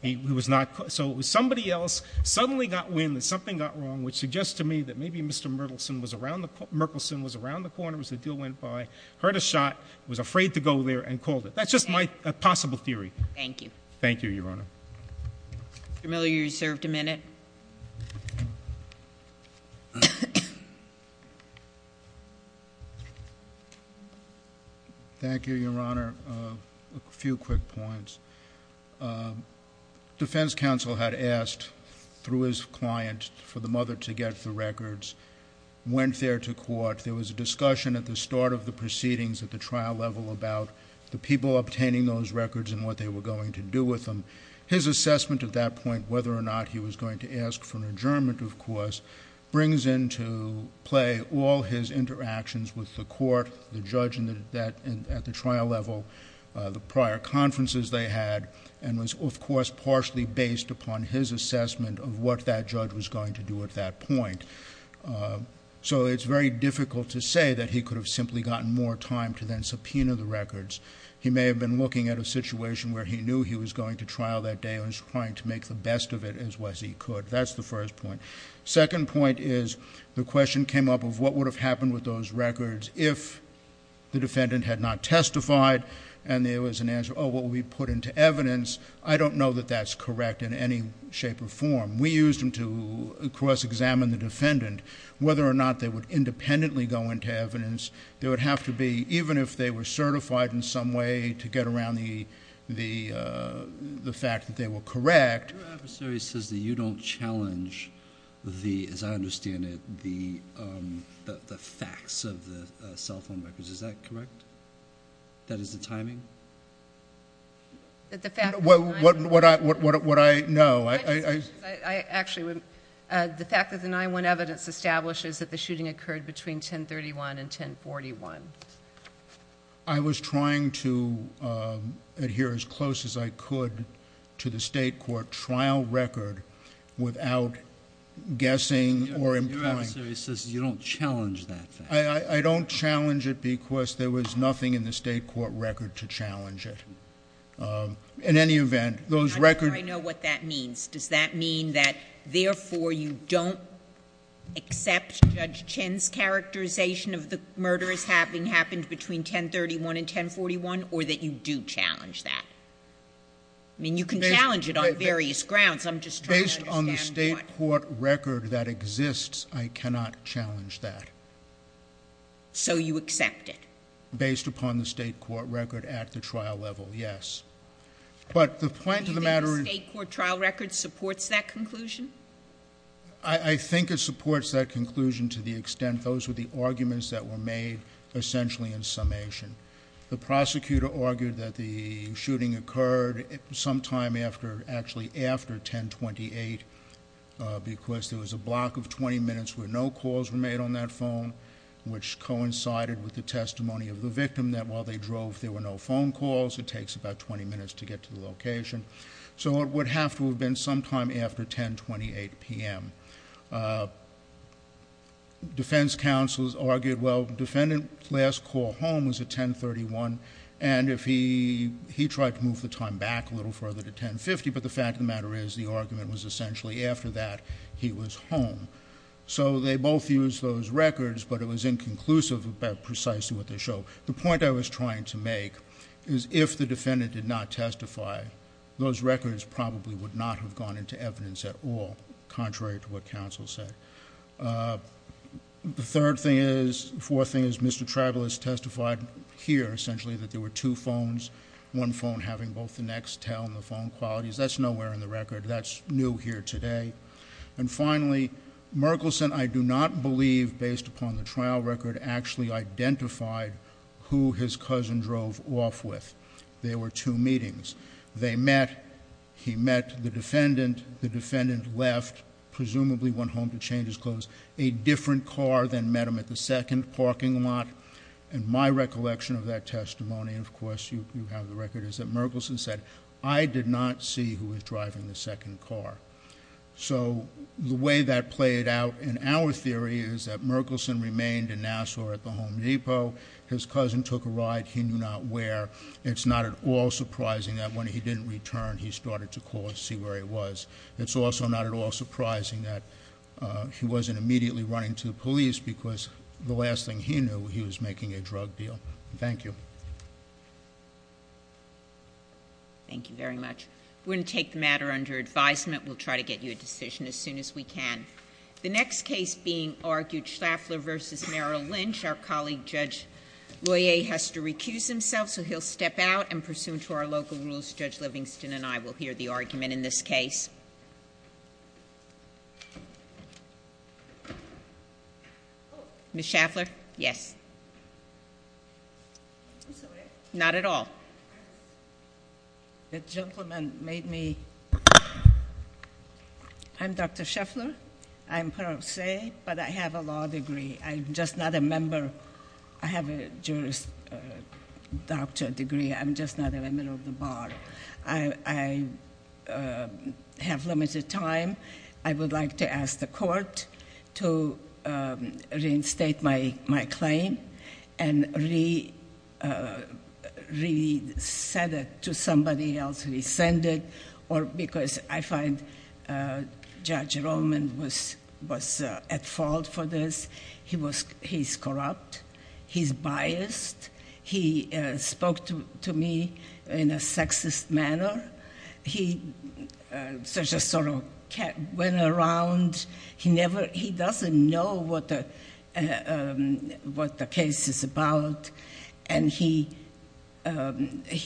He was not, so it was somebody else suddenly got wind that something got wrong, which suggests to me that maybe Mr. Merkelson was around the corner as the deal went by, heard a shot, was afraid to go there, and called it. That's just my possible theory. Thank you. Thank you, Your Honor. Mr. Miller, you're reserved a minute. Thank you, Your Honor. A few quick points. Defense counsel had asked, through his client, for the mother to get the records, went there to court. There was a discussion at the start of the proceedings at the trial level about the people obtaining those records and what they were going to do with them. His assessment at that point, whether or not he was going to ask for an adjournment, of course, brings into play all his interactions with the court, the judge at the trial level, the prior conferences they had, and was, of course, partially based upon his assessment of what that judge was going to do at that point. So it's very difficult to say that he could have simply gotten more time to then subpoena the records. He may have been looking at a situation where he knew he was going to trial that day and was trying to make the best of it as well as he could. That's the first point. Second point is, the question came up of what would have happened with those records if the defendant had not testified and there was an answer, what would be put into evidence? I don't know that that's correct in any shape or form. We used them to, of course, examine the defendant, whether or not they would independently go into evidence. They would have to be, even if they were certified in some way to get around the fact that they were correct. Your adversary says that you don't challenge the, as I understand it, the facts of the cell phone records. Is that correct? That is the timing? That the fact that the 9-1-1 evidence establishes that the shooting occurred between 1031 and 1041. I was trying to adhere as close as I could to the state court trial record without guessing or employing. Your adversary says you don't challenge that fact. I don't challenge it because there was nothing in the state court record to challenge it. In any event, those records- I know what that means. Does that mean that therefore you don't accept Judge Chin's characterization of the murder as having happened between 1031 and 1041, or that you do challenge that? I mean, you can challenge it on various grounds. I'm just trying to understand what- Based on the state court record that exists, I cannot challenge that. So you accept it? Based upon the state court record at the trial level, yes. But the point of the matter- Do you think the state court trial record supports that conclusion? I think it supports that conclusion to the extent those were the arguments that were made essentially in summation. The prosecutor argued that the shooting occurred sometime after, actually after 1028 because there was a block of 20 minutes where no calls were made on that phone. Which coincided with the testimony of the victim that while they drove, there were no phone calls. It takes about 20 minutes to get to the location. So it would have to have been sometime after 1028 PM. Defense counsels argued, well, defendant last call home was at 1031, and if he tried to move the time back a little further to 1050, but the fact of the matter is the argument was essentially after that, he was home. So they both used those records, but it was inconclusive about precisely what they showed. The point I was trying to make is if the defendant did not testify, those records probably would not have gone into evidence at all, contrary to what counsel said. The third thing is, fourth thing is, Mr. Tribal has testified here, essentially, that there were two phones. One phone having both the next tell and the phone qualities. That's nowhere in the record. That's new here today. And finally, Merkelson, I do not believe, based upon the trial record, actually identified who his cousin drove off with. There were two meetings. They met, he met the defendant, the defendant left, presumably went home to change his clothes. A different car then met him at the second parking lot. And my recollection of that testimony, and of course you have the record, is that Merkelson said, I did not see who was driving the second car. So the way that played out in our theory is that Merkelson remained in Nassau at the Home Depot. His cousin took a ride he knew not where. It's not at all surprising that when he didn't return, he started to call to see where he was. It's also not at all surprising that he wasn't immediately running to the police because the last thing he knew, he was making a drug deal. Thank you. Thank you very much. We're going to take the matter under advisement. We'll try to get you a decision as soon as we can. The next case being argued, Schlafler versus Merrill Lynch. Our colleague, Judge Royer, has to recuse himself, so he'll step out and pursuant to our local rules, Judge Livingston and I will hear the argument in this case. Ms. Schlafler? Yes. Not at all. The gentleman made me, I'm Dr. Schlafler. I'm parole say, but I have a law degree. I'm just not a member, I have a jurist doctor degree. I'm just not a member of the bar. I have limited time. I would like to ask the court to reinstate my claim. And re-send it to somebody else, re-send it. Or because I find Judge Roman was at fault for this. He's corrupt. He's biased. He spoke to me in a sexist manner. He just sort of went around. He doesn't know what the case is about. And he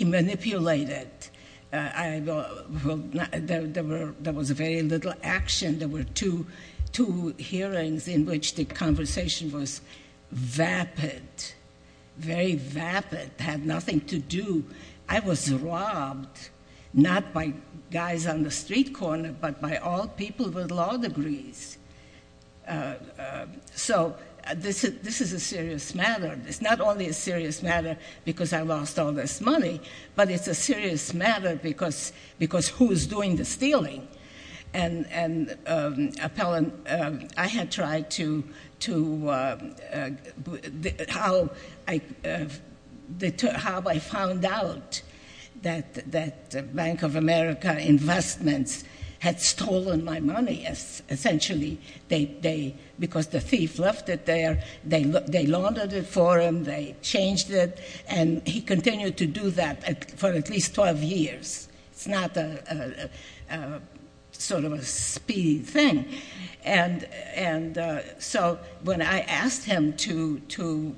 manipulated, there was very little action. There were two hearings in which the conversation was vapid, very vapid. Had nothing to do. I was robbed, not by guys on the street corner, but by all people with law degrees. So this is a serious matter. It's not only a serious matter because I lost all this money, but it's a serious matter because who is doing the stealing? And I had tried to, how I found out that Bank of America Investments had stolen my money, essentially, because the thief left it there. They laundered it for him. They changed it. And he continued to do that for at least 12 years. It's not sort of a speedy thing. And so when I asked him to,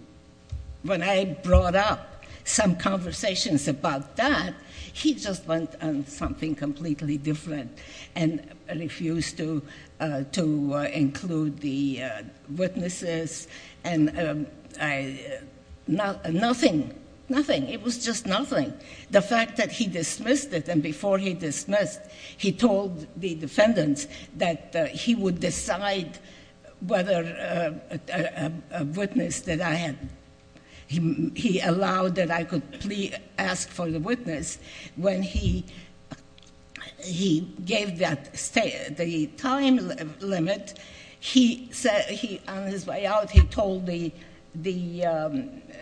when I brought up some conversations about that, he just went on something completely different and refused to include the witnesses. And nothing, nothing. It was just nothing. The fact that he dismissed it, and before he dismissed, he told the defendants that he would decide whether a witness that I had, he allowed that I could ask for the witness. When he gave that, the time limit, he said, on his way out, he told the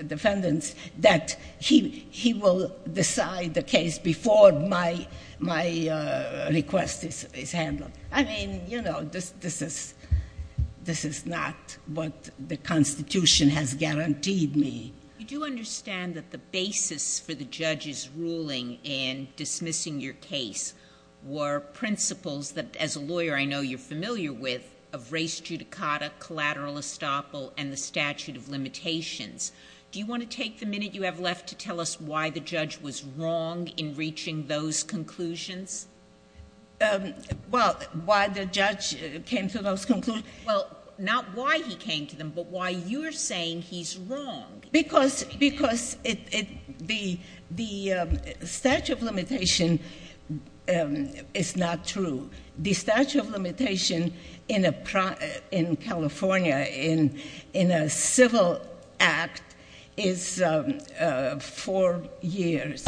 defendants that he will decide the case before my request is handled. I mean, you know, this is not what the Constitution has guaranteed me. You do understand that the basis for the judge's ruling in dismissing your case were principles that, as a lawyer I know you're familiar with, of res judicata, collateral estoppel, and the statute of limitations. Do you want to take the minute you have left to tell us why the judge was wrong in reaching those conclusions? Well, why the judge came to those conclusions? Well, not why he came to them, but why you're saying he's wrong. Because the statute of limitation is not true. The statute of limitation in California, in a civil act, is four years.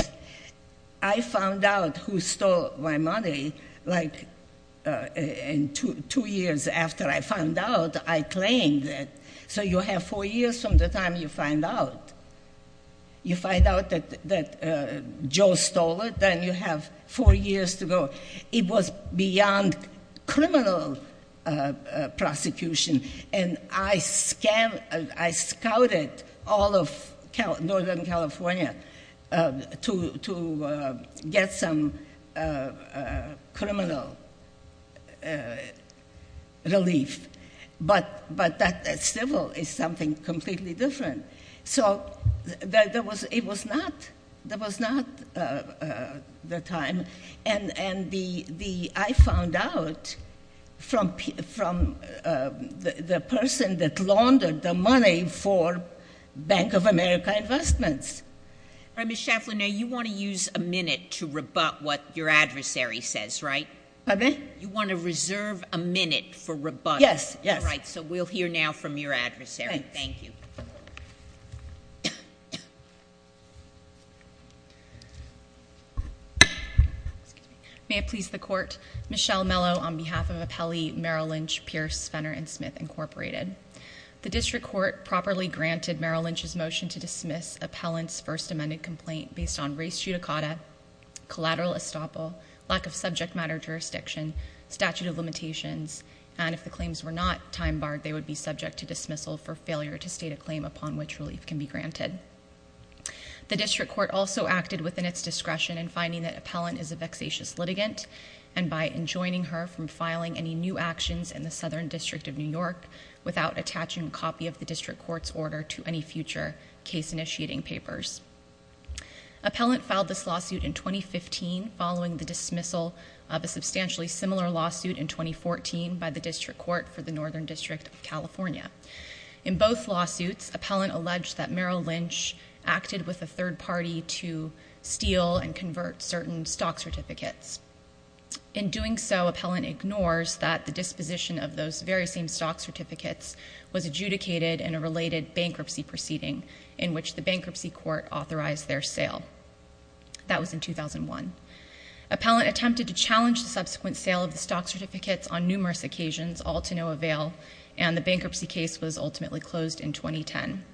I found out who stole my money, like, two years after I found out, I claimed it. So you have four years from the time you find out. You find out that Joe stole it, then you have four years to go. It was beyond criminal prosecution. And I scouted all of Northern California to get some criminal relief. But that civil is something completely different. So it was not the time. And I found out from the person that laundered the money for Bank of America Investments. All right, Ms. Shafflin, now you want to use a minute to rebut what your adversary says, right? Pardon me? You want to reserve a minute for rebuttal. Yes, yes. All right, so we'll hear now from your adversary. Thank you. May it please the court, Michelle Mello on behalf of Appellee Merrill Lynch, Pierce, Fenner, and Smith, Incorporated. The district court properly granted Merrill Lynch's motion to dismiss Appellant's first amended complaint based on race judicata, collateral estoppel, lack of subject matter jurisdiction, statute of limitations. And if the claims were not time barred, they would be subject to dismissal for failure to state a claim upon which relief can be granted. The district court also acted within its discretion in finding that Appellant is a vexatious litigant. And by enjoining her from filing any new actions in the Southern District of New York without attaching a copy of the district court's order to any future case initiating papers. Appellant filed this lawsuit in 2015 following the dismissal of a substantially similar lawsuit in 2014 by the district court for the Northern District of California. In both lawsuits, Appellant alleged that Merrill Lynch acted with a third party to steal and convert certain stock certificates. In doing so, Appellant ignores that the disposition of those very same stock certificates was adjudicated in a related bankruptcy proceeding in which the bankruptcy court authorized their sale. That was in 2001. Appellant attempted to challenge the subsequent sale of the stock certificates on numerous occasions, all to no avail. And the bankruptcy case was ultimately closed in 2010.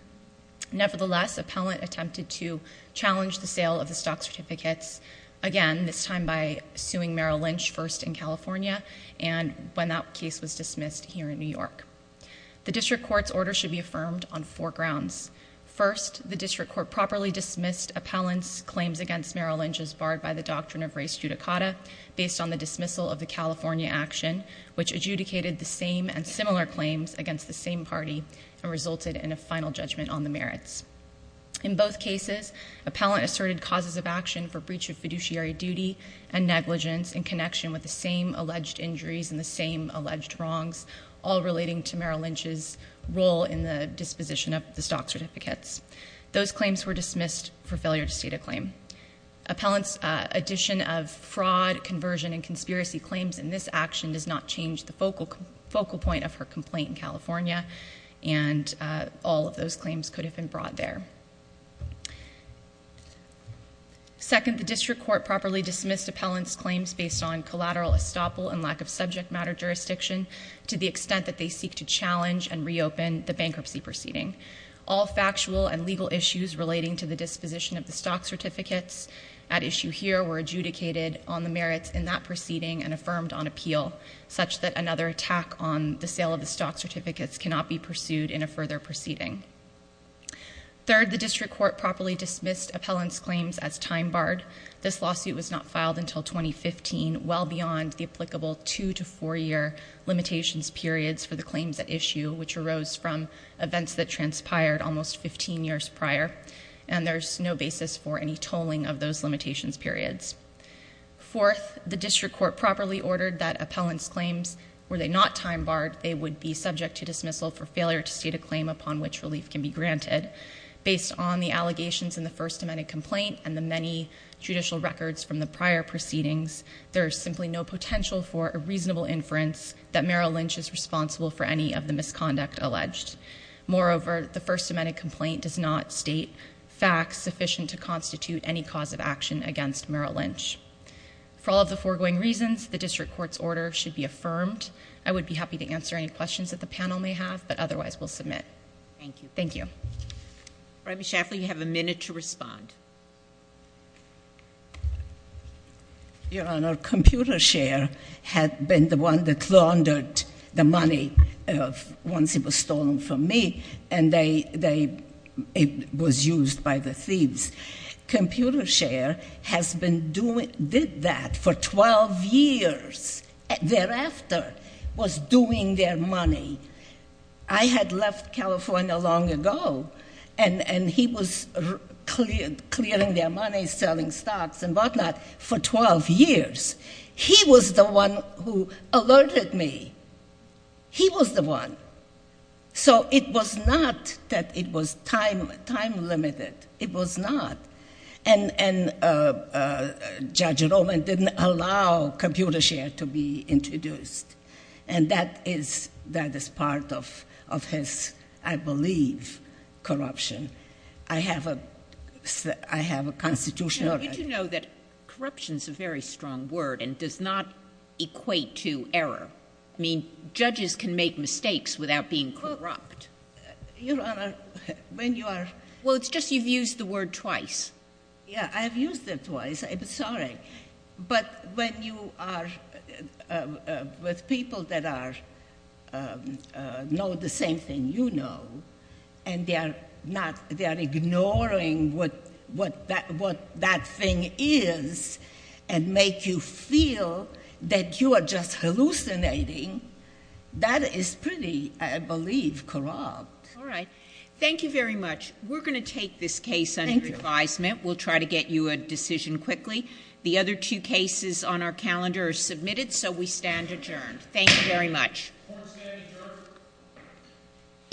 Nevertheless, Appellant attempted to challenge the sale of the stock certificates, again, this time by suing Merrill Lynch first in California, and when that case was dismissed here in New York. The district court's order should be affirmed on four grounds. First, the district court properly dismissed Appellant's claims against Merrill Lynch as barred by the doctrine of res judicata, based on the dismissal of the California action, which adjudicated the same and similar claims against the same party and resulted in a final judgment on the merits. In both cases, Appellant asserted causes of action for breach of fiduciary duty and negligence in connection with the same alleged injuries and the same alleged wrongs. All relating to Merrill Lynch's role in the disposition of the stock certificates. Those claims were dismissed for failure to state a claim. Appellant's addition of fraud, conversion, and conspiracy claims in this action does not change the focal point of her complaint in California. And all of those claims could have been brought there. Second, the district court properly dismissed Appellant's claims based on collateral estoppel and lack of subject matter jurisdiction to the extent that they seek to challenge and reopen the bankruptcy proceeding. All factual and legal issues relating to the disposition of the stock certificates at issue here were adjudicated on the merits in that proceeding and affirmed on appeal, such that another attack on the sale of the stock certificates cannot be pursued in a further proceeding. Third, the district court properly dismissed Appellant's claims as time barred. This lawsuit was not filed until 2015, well beyond the applicable two to four year limitations periods for the claims at issue, which arose from events that transpired almost 15 years prior. And there's no basis for any tolling of those limitations periods. Fourth, the district court properly ordered that Appellant's claims, were they not time barred, they would be subject to dismissal for failure to state a claim upon which relief can be granted. Based on the allegations in the First Amendment complaint and the many judicial records from the prior proceedings, there is simply no potential for a reasonable inference that Merrill Lynch is responsible for any of the misconduct alleged. Moreover, the First Amendment complaint does not state facts sufficient to constitute any cause of action against Merrill Lynch. For all of the foregoing reasons, the district court's order should be affirmed. I would be happy to answer any questions that the panel may have, but otherwise we'll submit. Thank you. Thank you. Rabbi Schaffer, you have a minute to respond. Your Honor, ComputerShare had been the one that laundered the money once it was stolen from me, and it was used by the thieves. ComputerShare has been doing, did that for 12 years. Thereafter, was doing their money. I had left California long ago, and he was clearing their money, selling stocks and whatnot for 12 years. He was the one who alerted me. He was the one. So it was not that it was time limited. It was not. And Judge Roman didn't allow ComputerShare to be introduced. And that is part of his, I believe, corruption. I have a constitutional right. Did you know that corruption is a very strong word and does not equate to error? I mean, judges can make mistakes without being corrupt. Your Honor, when you are- Well, it's just you've used the word twice. Yeah, I've used it twice. I'm sorry. But when you are with people that know the same thing you know, and they are ignoring what that thing is and make you feel that you are just hallucinating, that is pretty, I believe, corrupt. All right. Thank you very much. We're going to take this case under advisement. We'll try to get you a decision quickly. The other two cases on our calendar are submitted, so we stand adjourned. Thank you very much. Court is adjourned.